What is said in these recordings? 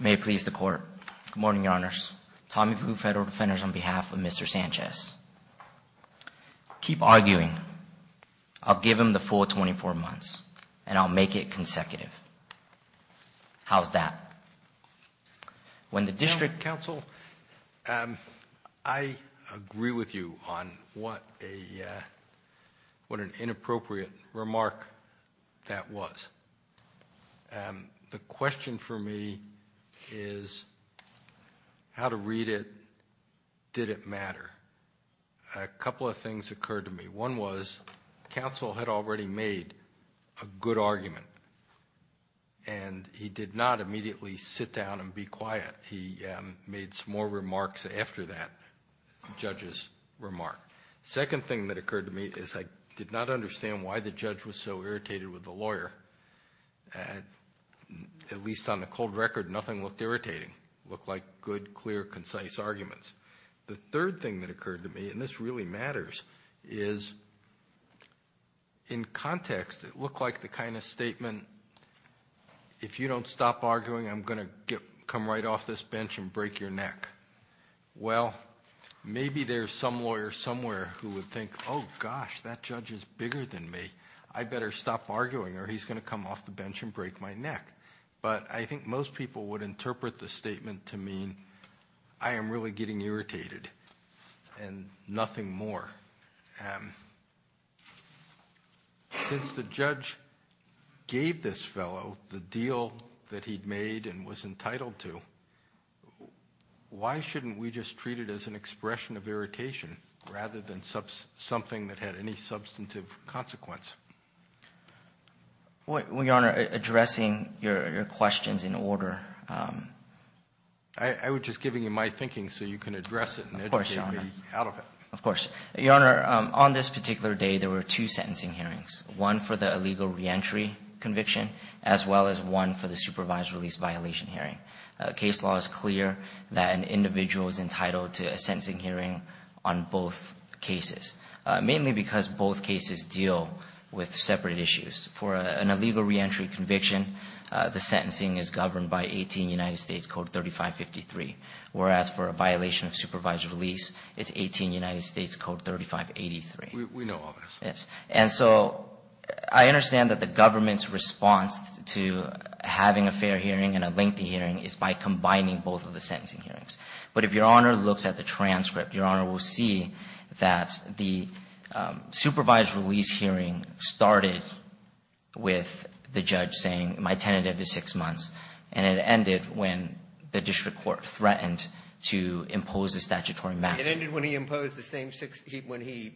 May it please the Court. Good morning, Your Honors. Tommy Pupu, Federal Defenders, on behalf of Mr. Sanchez. Keep arguing. I'll give him the full 24 months, and I'll make it consecutive. How's that? When the district counsel... I agree with you on what an inappropriate remark that was. The question for me is, how to read it, did it matter? A couple of things occurred to me. One was, counsel had already made a good argument, and he did not immediately sit down and be quiet. He made some more remarks after that judge's remark. Second thing that occurred to me is I did not understand why the judge was so irritated with the lawyer. At least on the cold record, nothing looked irritating. It looked like good, clear, concise arguments. The third thing that occurred to me, and this really matters, is in context, it looked like the kind of statement, if you don't stop arguing, I'm going to come right off this bench and break your neck. Well, maybe there's some lawyer somewhere who would think, oh, gosh, that judge is bigger than me. I better stop arguing, or he's going to come off the bench and break my neck. But I think most people would interpret the statement to mean I am really getting irritated and nothing more. Since the judge gave this fellow the deal that he'd made and was entitled to, why shouldn't we just treat it as an expression of irritation rather than something that had any substantive consequence? Well, Your Honor, addressing your questions in order. I was just giving you my thinking so you can address it and educate me out of it. Of course, Your Honor. Of course. Your Honor, on this particular day there were two sentencing hearings, one for the illegal reentry conviction as well as one for the supervised release violation hearing. Case law is clear that an individual is entitled to a sentencing hearing on both cases, mainly because both cases deal with separate issues. For an illegal reentry conviction, the sentencing is governed by 18 United States Code 3553, whereas for a violation of supervised release, it's 18 United States Code 3583. We know all this. Yes. And so I understand that the government's response to having a fair hearing and a lengthy hearing is by combining both of the sentencing hearings. But if Your Honor looks at the transcript, Your Honor will see that the supervised release hearing started with the judge saying, my tentative is six months, and it ended when the district court threatened to impose a statutory maximum. It ended when he imposed the same six – when he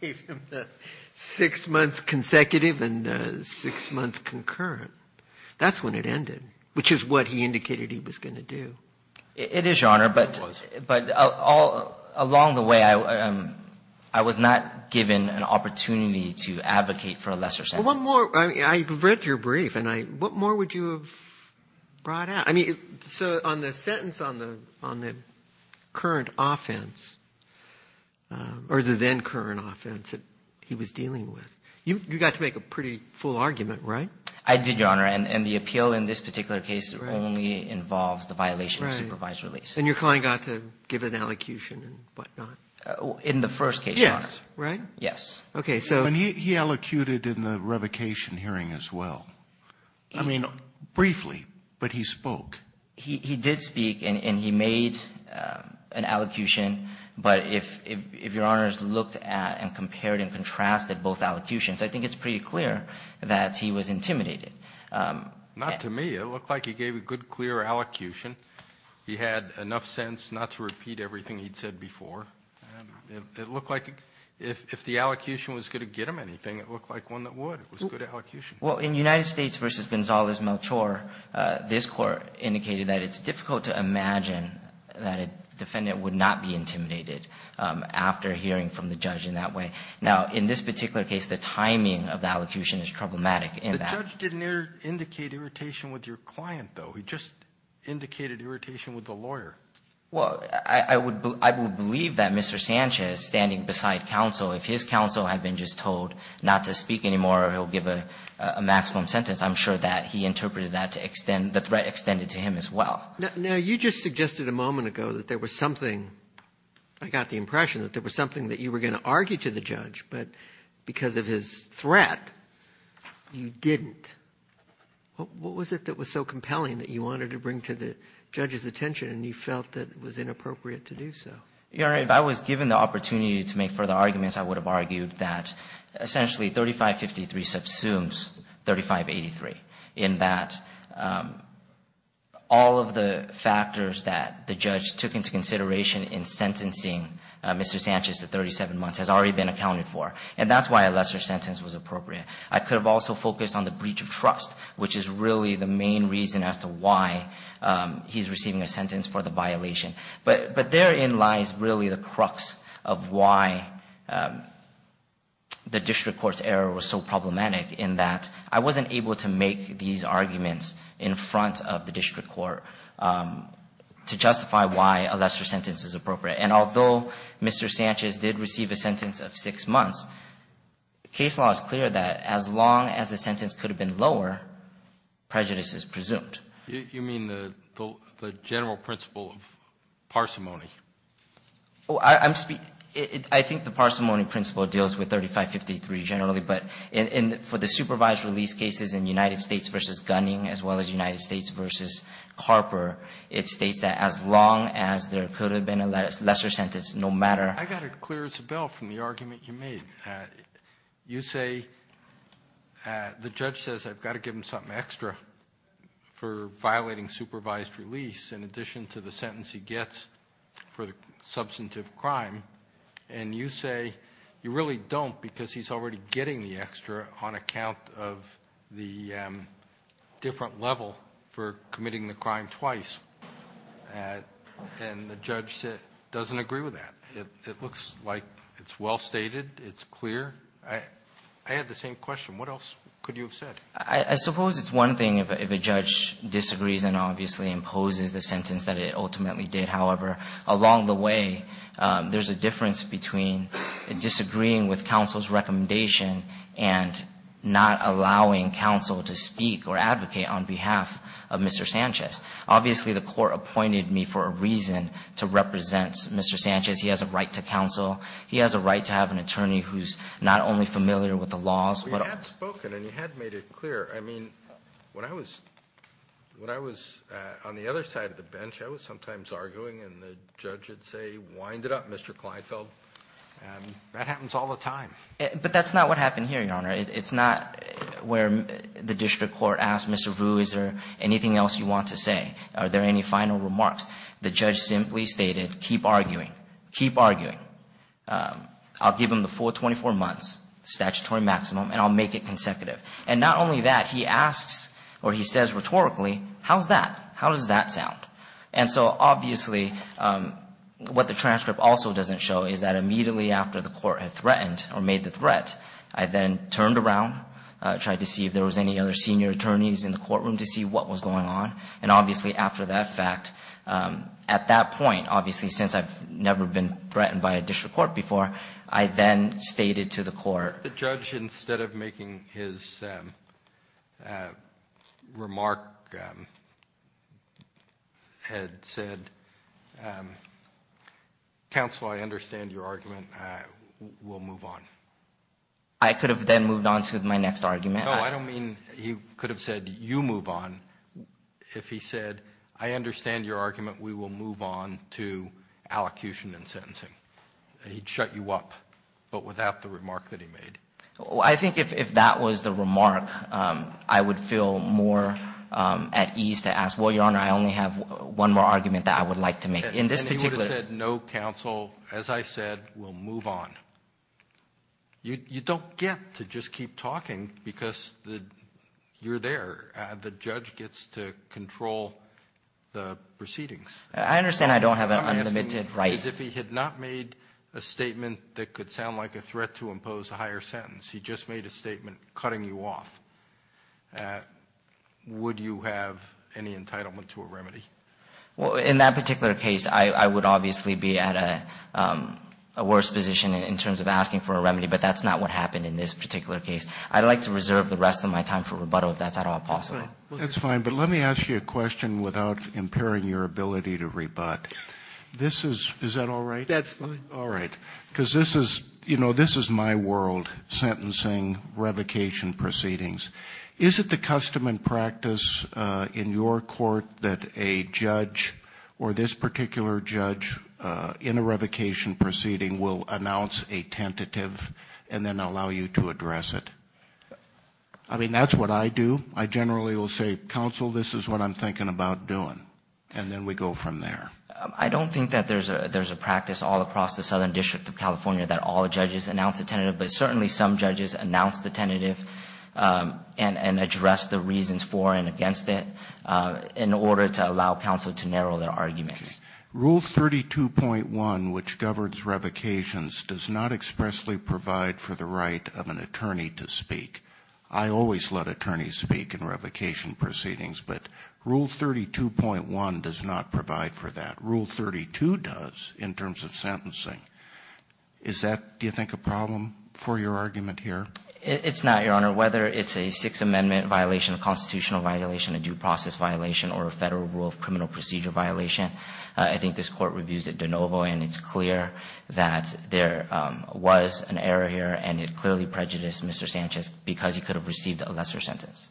gave him the six months consecutive and the six months concurrent. That's when it ended, which is what he indicated he was going to do. It is, Your Honor. It was. But along the way, I was not given an opportunity to advocate for a lesser sentence. Well, one more. I read your brief, and I – what more would you have brought out? I mean, so on the sentence on the current offense, or the then-current offense that he was dealing with, you got to make a pretty full argument, right? I did, Your Honor. And the appeal in this particular case only involves the violation of supervised release. Right. And your client got to give an elocution and whatnot? In the first case, Your Honor. Yes, right? Yes. Okay, so – And he elocuted in the revocation hearing as well. I mean, briefly, but he spoke. He did speak, and he made an elocution, but if Your Honors looked at and compared and contrasted both elocutions, I think it's pretty clear that he was intimidated. Not to me. It looked like he gave a good, clear elocution. He had enough sense not to repeat everything he'd said before. It looked like if the elocution was going to get him anything, it looked like one that would. It was a good elocution. Well, in United States v. Gonzalez-Melchor, this Court indicated that it's difficult to imagine that a defendant would not be intimidated after hearing from the judge in that way. Now, in this particular case, the timing of the elocution is problematic in that. The judge didn't indicate irritation with your client, though. He just indicated irritation with the lawyer. Well, I would believe that Mr. Sanchez, standing beside counsel, if his counsel had been just told not to speak anymore or he'll give a maximum sentence, I'm sure that he interpreted that to extend – the threat extended to him as well. Now, you just suggested a moment ago that there was something – I got the impression that there was something that you were going to argue to the judge, but because of his threat, you didn't. What was it that was so compelling that you wanted to bring to the judge's attention and you felt that it was inappropriate to do so? Your Honor, if I was given the opportunity to make further arguments, I would have argued that essentially 3553 subsumes 3583, in that all of the factors that the judge took into consideration in sentencing Mr. Sanchez to 37 months has already been accounted for. And that's why a lesser sentence was appropriate. I could have also focused on the breach of trust, which is really the main reason as to why he's receiving a sentence for the violation. But therein lies really the crux of why the district court's error was so problematic, in that I wasn't able to make these arguments in front of the district court to justify why a lesser sentence is appropriate. And although Mr. Sanchez did receive a sentence of 6 months, case law is clear that as long as the sentence could have been lower, prejudice is presumed. You mean the general principle of parsimony? I think the parsimony principle deals with 3553 generally. But for the supervised release cases in United States v. Gunning as well as United States v. Carper, it states that as long as there could have been a lesser sentence, no matter. I got it clear as a bell from the argument you made. You say the judge says I've got to give him something extra for violating supervised release in addition to the sentence he gets for the substantive crime. And you say you really don't because he's already getting the extra on account of the different level for committing the crime twice. And the judge doesn't agree with that. It looks like it's well stated. It's clear. I had the same question. What else could you have said? I suppose it's one thing if a judge disagrees and obviously imposes the sentence that it ultimately did. However, along the way, there's a difference between disagreeing with counsel's recommendation and not allowing counsel to speak or advocate on behalf of Mr. Sanchez. Obviously, the court appointed me for a reason to represent Mr. Sanchez. He has a right to counsel. He has a right to have an attorney who's not only familiar with the laws. Well, you had spoken and you had made it clear. I mean, when I was on the other side of the bench, I was sometimes arguing, and the judge would say, wind it up, Mr. Kleinfeld. That happens all the time. But that's not what happened here, Your Honor. It's not where the district court asked Mr. Vu, is there anything else you want to say? Are there any final remarks? The judge simply stated, keep arguing, keep arguing. I'll give him the full 24 months, statutory maximum, and I'll make it consecutive. And not only that, he asks or he says rhetorically, how's that? How does that sound? And so, obviously, what the transcript also doesn't show is that immediately after the court had threatened or made the threat, I then turned around, tried to see if there was any other senior attorneys in the courtroom to see what was going on. And obviously, after that fact, at that point, obviously, since I've never been threatened by a district court before, I then stated to the court. The judge, instead of making his remark, had said, counsel, I understand your argument. We'll move on. I could have then moved on to my next argument. No, I don't mean he could have said, you move on. If he said, I understand your argument, we will move on to allocution and sentencing. He'd shut you up, but without the remark that he made. I think if that was the remark, I would feel more at ease to ask, well, Your Honor, I only have one more argument that I would like to make. And he would have said, no, counsel, as I said, we'll move on. You don't get to just keep talking because you're there. The judge gets to control the proceedings. I understand I don't have an unlimited right. What I'm asking is if he had not made a statement that could sound like a threat to impose a higher sentence, he just made a statement cutting you off, would you have any entitlement to a remedy? Well, in that particular case, I would obviously be at a worse position in terms of asking for a remedy, but that's not what happened in this particular case. I'd like to reserve the rest of my time for rebuttal if that's at all possible. That's fine. But let me ask you a question without impairing your ability to rebut. This is, is that all right? That's fine. All right. Because this is, you know, this is my world, sentencing, revocation proceedings. Is it the custom and practice in your court that a judge or this particular judge in a revocation proceeding will announce a tentative and then allow you to address it? I mean, that's what I do. I generally will say, counsel, this is what I'm thinking about doing, and then we go from there. I don't think that there's a practice all across the Southern District of California that all judges announce a tentative, but certainly some judges announce the tentative and address the reasons for and against it in order to allow counsel to narrow their arguments. Okay. Rule 32.1, which governs revocations, does not expressly provide for the right of an attorney to speak. I always let attorneys speak in revocation proceedings, but Rule 32.1 does not provide for that. Rule 32 does in terms of sentencing. Is that, do you think, a problem for your argument here? It's not, Your Honor. Whether it's a Sixth Amendment violation, a constitutional violation, a due process violation, or a federal rule of criminal procedure violation, I think this court reviews it de novo, and it's clear that there was an error here, and it clearly prejudiced Mr. Sanchez because he could have received a lesser sentence.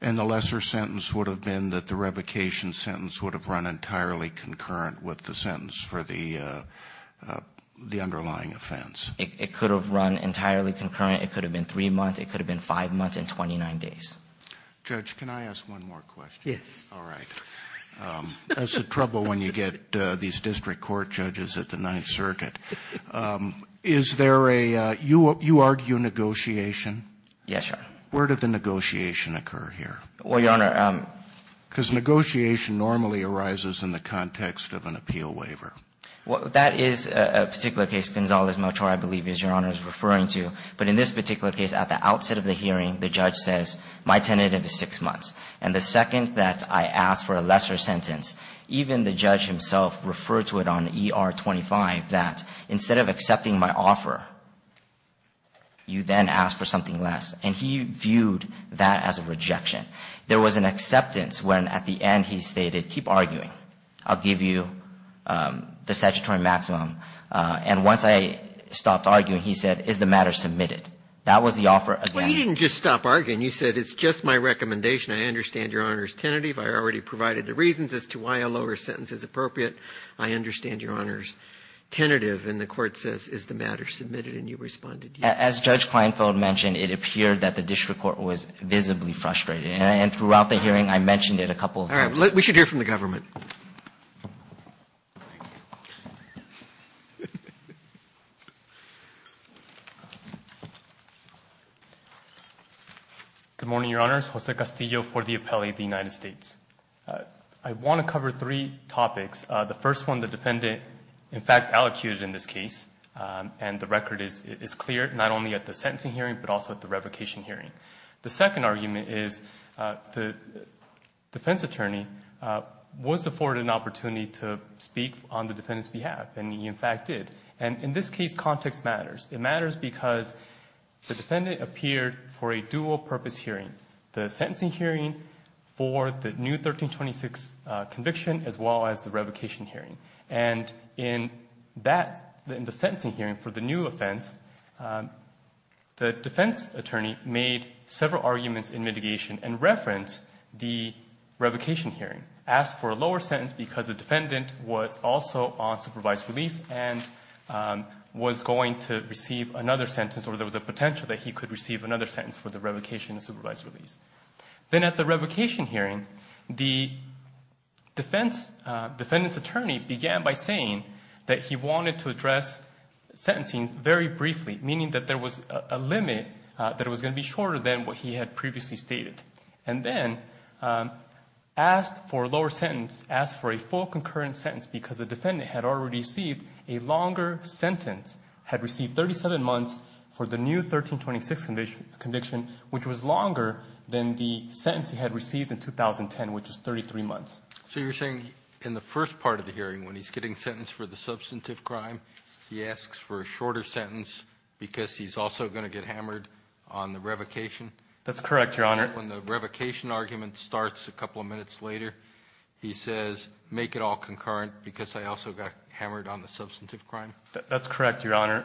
And the lesser sentence would have been that the revocation sentence would have run entirely concurrent with the sentence for the underlying offense? It could have run entirely concurrent. It could have been three months. It could have been five months and 29 days. Judge, can I ask one more question? Yes. All right. That's the trouble when you get these district court judges at the Ninth Circuit. Is there a, you argue negotiation? Yes, Your Honor. Where did the negotiation occur here? Well, Your Honor. Because negotiation normally arises in the context of an appeal waiver. Well, that is a particular case. Gonzalez-Machar, I believe, is Your Honor's referring to. But in this particular case, at the outset of the hearing, the judge says, my tentative is six months. And the second that I ask for a lesser sentence, even the judge himself referred to it on ER-25, that instead of accepting my offer, you then ask for something less. And he viewed that as a rejection. There was an acceptance when, at the end, he stated, keep arguing. I'll give you the statutory maximum. And once I stopped arguing, he said, is the matter submitted? That was the offer again. Well, you didn't just stop arguing. You said, it's just my recommendation. I understand Your Honor's tentative. I already provided the reasons as to why a lower sentence is appropriate. I understand Your Honor's tentative. And the court says, is the matter submitted? And you responded, yes. As Judge Kleinfeld mentioned, it appeared that the district court was visibly frustrated. And throughout the hearing, I mentioned it a couple of times. All right. We should hear from the government. Good morning, Your Honors. Jose Castillo for the appellee of the United States. I want to cover three topics. The first one, the defendant, in fact, allocated in this case, and the record is clear, not only at the sentencing hearing, but also at the revocation hearing. The second argument is the defense attorney was afforded an opportunity to speak on the defendant's behalf. And he, in fact, did. And in this case, context matters. It matters because the defendant appeared for a dual-purpose hearing, the sentencing hearing for the new 1326 conviction, as well as the revocation hearing. And in the sentencing hearing for the new offense, the defense attorney made several arguments in mitigation and referenced the revocation hearing, asked for a lower sentence because the defendant was also on supervised release and was going to receive another sentence, or there was a potential that he could receive another sentence for the revocation and supervised release. Then at the revocation hearing, the defense attorney began by saying that he wanted to address sentencing very briefly, meaning that there was a limit that it was going to be shorter than what he had previously stated, and then asked for a lower sentence, asked for a full concurrent sentence, because the defendant had already received a longer sentence, had received 37 months for the new 1326 conviction, which was longer than the sentence he had received in 2010, which was 33 months. Roberts. So you're saying in the first part of the hearing, when he's getting sentenced for the substantive crime, he asks for a shorter sentence because he's also going to get hammered on the revocation? That's correct, Your Honor. When the revocation argument starts a couple of minutes later, he says make it all concurrent because I also got hammered on the substantive crime? That's correct, Your Honor.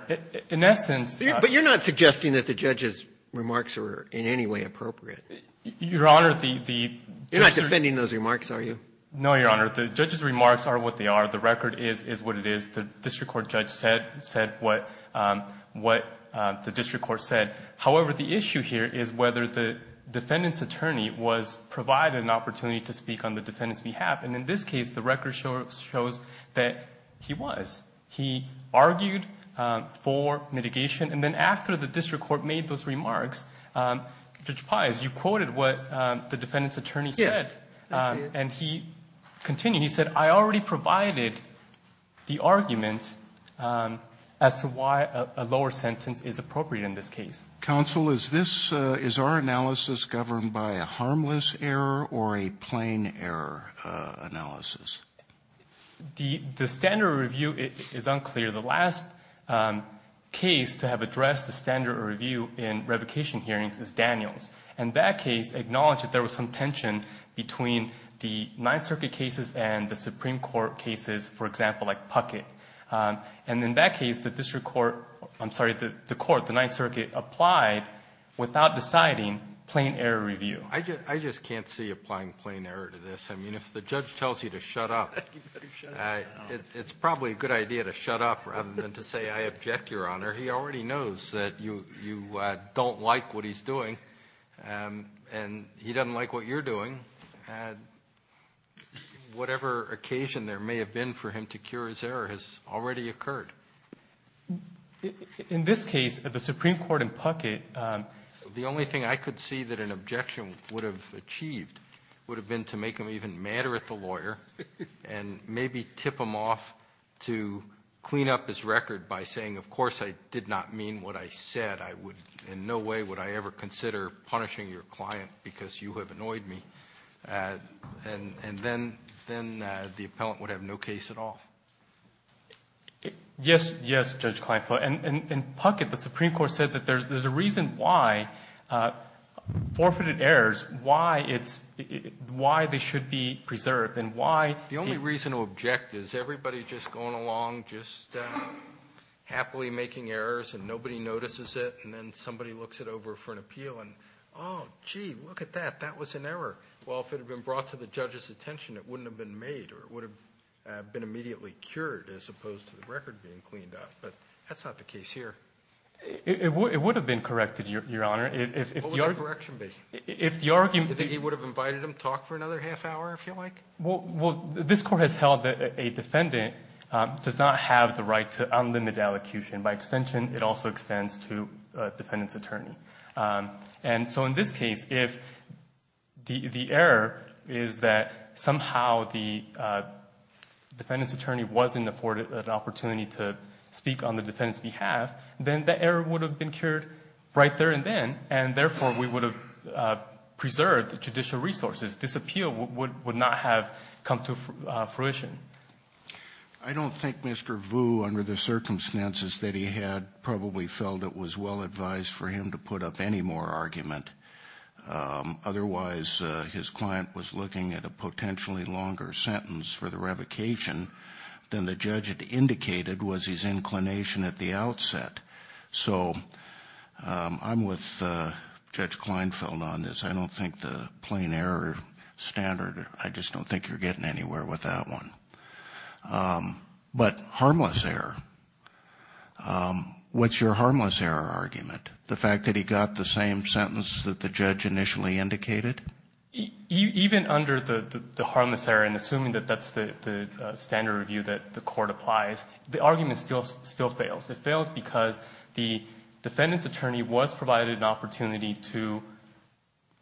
In essence ---- But you're not suggesting that the judge's remarks are in any way appropriate? Your Honor, the ---- You're not defending those remarks, are you? No, Your Honor. The judge's remarks are what they are. The record is what it is. The district court judge said what the district court said. However, the issue here is whether the defendant's attorney was provided an opportunity to speak on the defendant's behalf. And in this case, the record shows that he was. He argued for mitigation. And then after the district court made those remarks, Judge Pius, you quoted what the defendant's attorney said. Yes. And he continued. He said, I already provided the argument as to why a lower sentence is appropriate in this case. Counsel, is this ---- is our analysis governed by a harmless error or a plain error analysis? The standard review is unclear. The last case to have addressed the standard review in revocation hearings is Daniels. And that case acknowledged that there was some tension between the Ninth Circuit cases and the Supreme Court cases, for example, like Puckett. And in that case, the district court ---- I'm sorry, the court, the Ninth Circuit, applied without deciding plain error review. I just can't see applying plain error to this. I mean, if the judge tells you to shut up, it's probably a good idea to shut up rather than to say, I object, Your Honor. He already knows that you don't like what he's doing, and he doesn't like what you're doing. Whatever occasion there may have been for him to cure his error has already occurred. In this case, the Supreme Court and Puckett ---- The only thing I could see that an objection would have achieved would have been to make him even madder at the lawyer and maybe tip him off to clean up his record by saying, of course, I did not mean what I said. I would in no way would I ever consider punishing your client because you have annoyed me. And then the appellant would have no case at all. Yes, yes, Judge Kleinfeld. And Puckett, the Supreme Court, said that there's a reason why forfeited errors, why it's why they should be preserved, and why the ---- The only reason to object is everybody just going along just happily making errors and nobody notices it, and then somebody looks it over for an appeal and, oh, gee, look at that. That was an error. Well, if it had been brought to the judge's attention, it wouldn't have been made or it would have been immediately cured as opposed to the record being cleaned up. But that's not the case here. It would have been corrected, Your Honor. If the argument ---- What would that correction be? If the argument ---- That he would have invited him to talk for another half hour, if you like? Well, this Court has held that a defendant does not have the right to unlimited allocution. By extension, it also extends to a defendant's attorney. And so in this case, if the error is that somehow the defendant's attorney wasn't afforded an opportunity to speak on the defendant's behalf, then the error would have been cured right there and then, and, therefore, we would have preserved the judicial resources. This appeal would not have come to fruition. I don't think Mr. Vu, under the circumstances that he had, probably felt it was well to put up any more argument. Otherwise, his client was looking at a potentially longer sentence for the revocation than the judge had indicated was his inclination at the outset. So I'm with Judge Kleinfeld on this. I don't think the plain error standard, I just don't think you're getting anywhere with that one. But harmless error. What's your harmless error argument? The fact that he got the same sentence that the judge initially indicated? Even under the harmless error, and assuming that that's the standard review that the Court applies, the argument still fails. It fails because the defendant's attorney was provided an opportunity to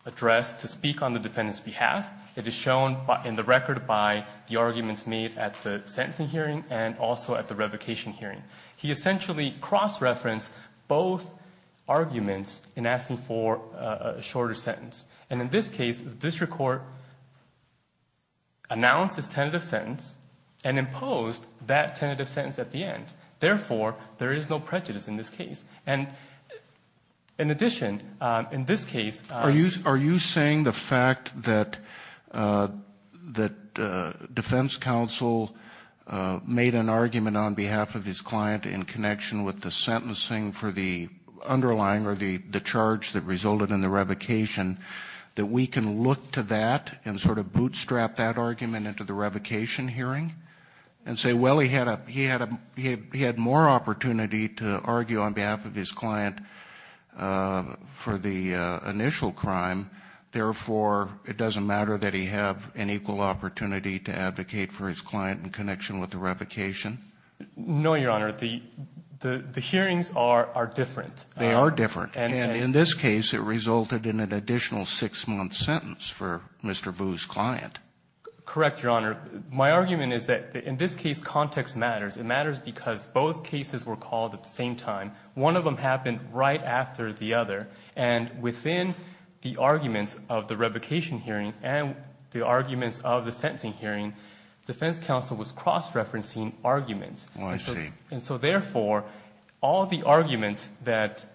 address, to speak on the defendant's behalf. It is shown in the record by the arguments made at the sentencing hearing and also at the revocation hearing. He essentially cross-referenced both arguments in asking for a shorter sentence. And in this case, the district court announced its tentative sentence and imposed that tentative sentence at the end. Therefore, there is no prejudice in this case. And in addition, in this case ---- Are you saying the fact that defense counsel made an argument on behalf of his client in connection with the sentencing for the underlying or the charge that resulted in the revocation, that we can look to that and sort of bootstrap that argument into the revocation hearing and say, well, he had more opportunity to argue on behalf of his client for the initial crime. Therefore, it doesn't matter that he have an equal opportunity to advocate for his client in connection with the revocation? No, Your Honor. The hearings are different. They are different. And in this case, it resulted in an additional six-month sentence for Mr. Vu's client. Correct, Your Honor. My argument is that in this case, context matters. It matters because both cases were called at the same time. One of them happened right after the other. And within the arguments of the revocation hearing and the arguments of the sentencing hearing, defense counsel was cross-referencing arguments. I see. And so, therefore, all the arguments that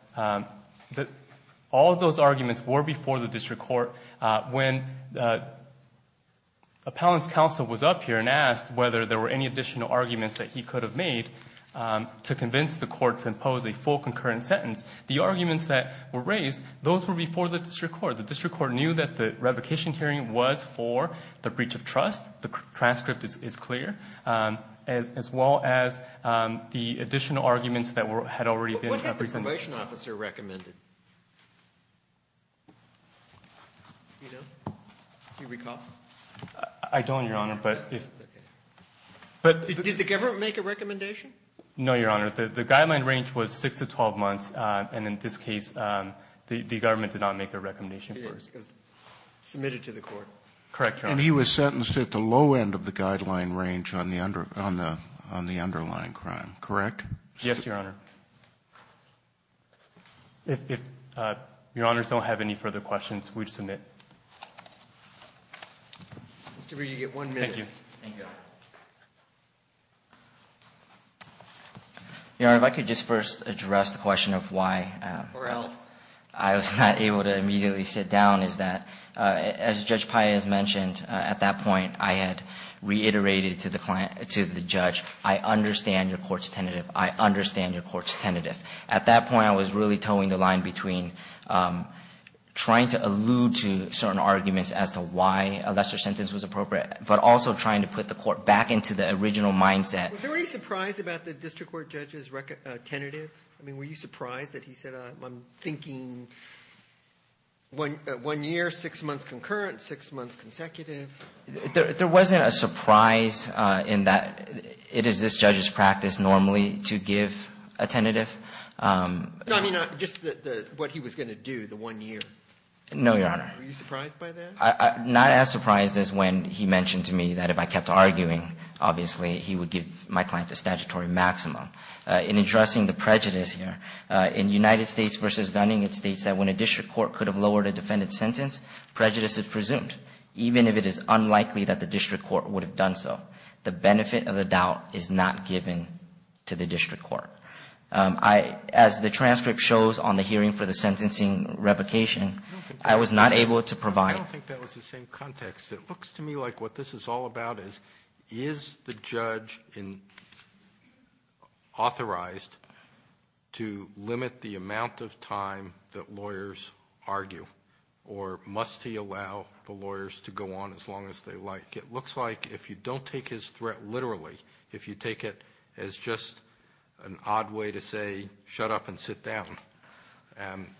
all those arguments were before the district court. When appellant's counsel was up here and asked whether there were any additional arguments that he could have made to convince the court to impose a full concurrent sentence, the arguments that were raised, those were before the district court. Therefore, the district court knew that the revocation hearing was for the breach of trust. The transcript is clear. As well as the additional arguments that had already been presented. What had the probation officer recommended? Do you recall? I don't, Your Honor. Did the government make a recommendation? No, Your Honor. The guideline range was six to 12 months. And in this case, the government did not make a recommendation for it. It was submitted to the court. Correct, Your Honor. And he was sentenced at the low end of the guideline range on the underlying crime, correct? Yes, Your Honor. If Your Honors don't have any further questions, we would submit. Mr. Brewer, you get one minute. Thank you. Your Honor, if I could just first address the question of why I was not able to immediately sit down is that, as Judge Paez mentioned, at that point, I had reiterated to the client, to the judge, I understand your court's tentative. I understand your court's tentative. At that point, I was really towing the line between trying to allude to certain arguments as to why a lesser sentence was appropriate, but also trying to prove and put the court back into the original mindset. Were you surprised about the district court judge's tentative? I mean, were you surprised that he said, I'm thinking one year, six months concurrent, six months consecutive? There wasn't a surprise in that it is this judge's practice normally to give a tentative. I mean, just what he was going to do, the one year. No, Your Honor. Were you surprised by that? I'm not as surprised as when he mentioned to me that if I kept arguing, obviously, he would give my client the statutory maximum. In addressing the prejudice here, in United States v. Gunning, it states that when a district court could have lowered a defendant's sentence, prejudice is presumed, even if it is unlikely that the district court would have done so. The benefit of the doubt is not given to the district court. As the transcript shows on the hearing for the sentencing revocation, I was not able to provide. I don't think that was the same context. It looks to me like what this is all about is, is the judge authorized to limit the amount of time that lawyers argue, or must he allow the lawyers to go on as long as they like? It looks like if you don't take his threat literally, if you take it as just an odd way to say, shut up and sit down,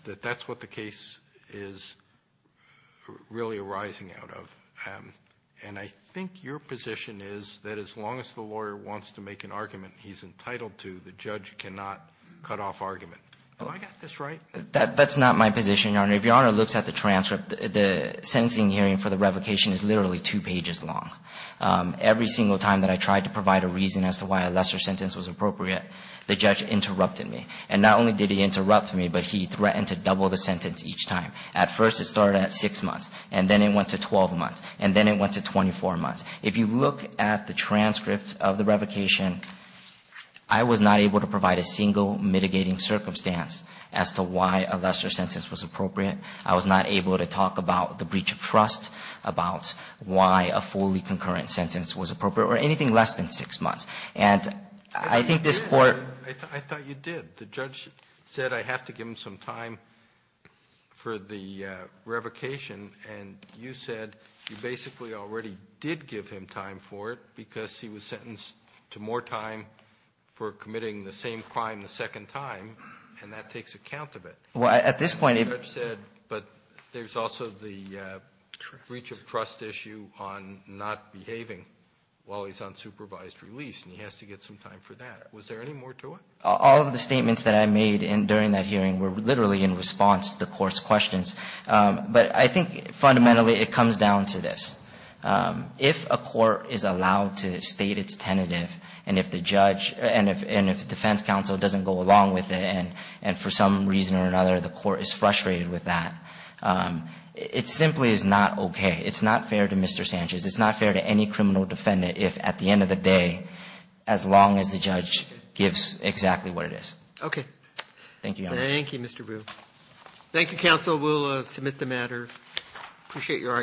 that that's what the case is really arising out of. And I think your position is that as long as the lawyer wants to make an argument he's entitled to, the judge cannot cut off argument. Have I got this right? That's not my position, Your Honor. If Your Honor looks at the transcript, the sentencing hearing for the revocation is literally two pages long. Every single time that I tried to provide a reason as to why a lesser sentence was appropriate, the judge interrupted me. And not only did he interrupt me, but he threatened to double the sentence each time. At first it started at six months, and then it went to 12 months, and then it went to 24 months. If you look at the transcript of the revocation, I was not able to provide a single mitigating circumstance as to why a lesser sentence was appropriate. I was not able to talk about the breach of trust, about why a fully concurrent sentence was appropriate, or anything less than six months. And I think this Court ---- Kennedy, I thought you did. The judge said I have to give him some time for the revocation, and you said you basically already did give him time for it because he was sentenced to more time for committing the same crime a second time, and that takes account of it. Well, at this point if ---- The judge said, but there's also the breach of trust issue on not behaving while he's on supervised release, and he has to get some time for that. Was there any more to it? All of the statements that I made during that hearing were literally in response to the Court's questions. But I think fundamentally it comes down to this. If a court is allowed to state its tentative, and if the judge, and if the defense counsel doesn't go along with it, and for some reason or another the court is frustrated with that, it simply is not okay. It's not fair to Mr. Sanchez. It's not fair to any criminal defendant if at the end of the day, as long as the judge gives exactly what it is. Thank you, Your Honor. Thank you, Mr. Bu. Thank you, counsel. We'll submit the matter. Appreciate your arguments.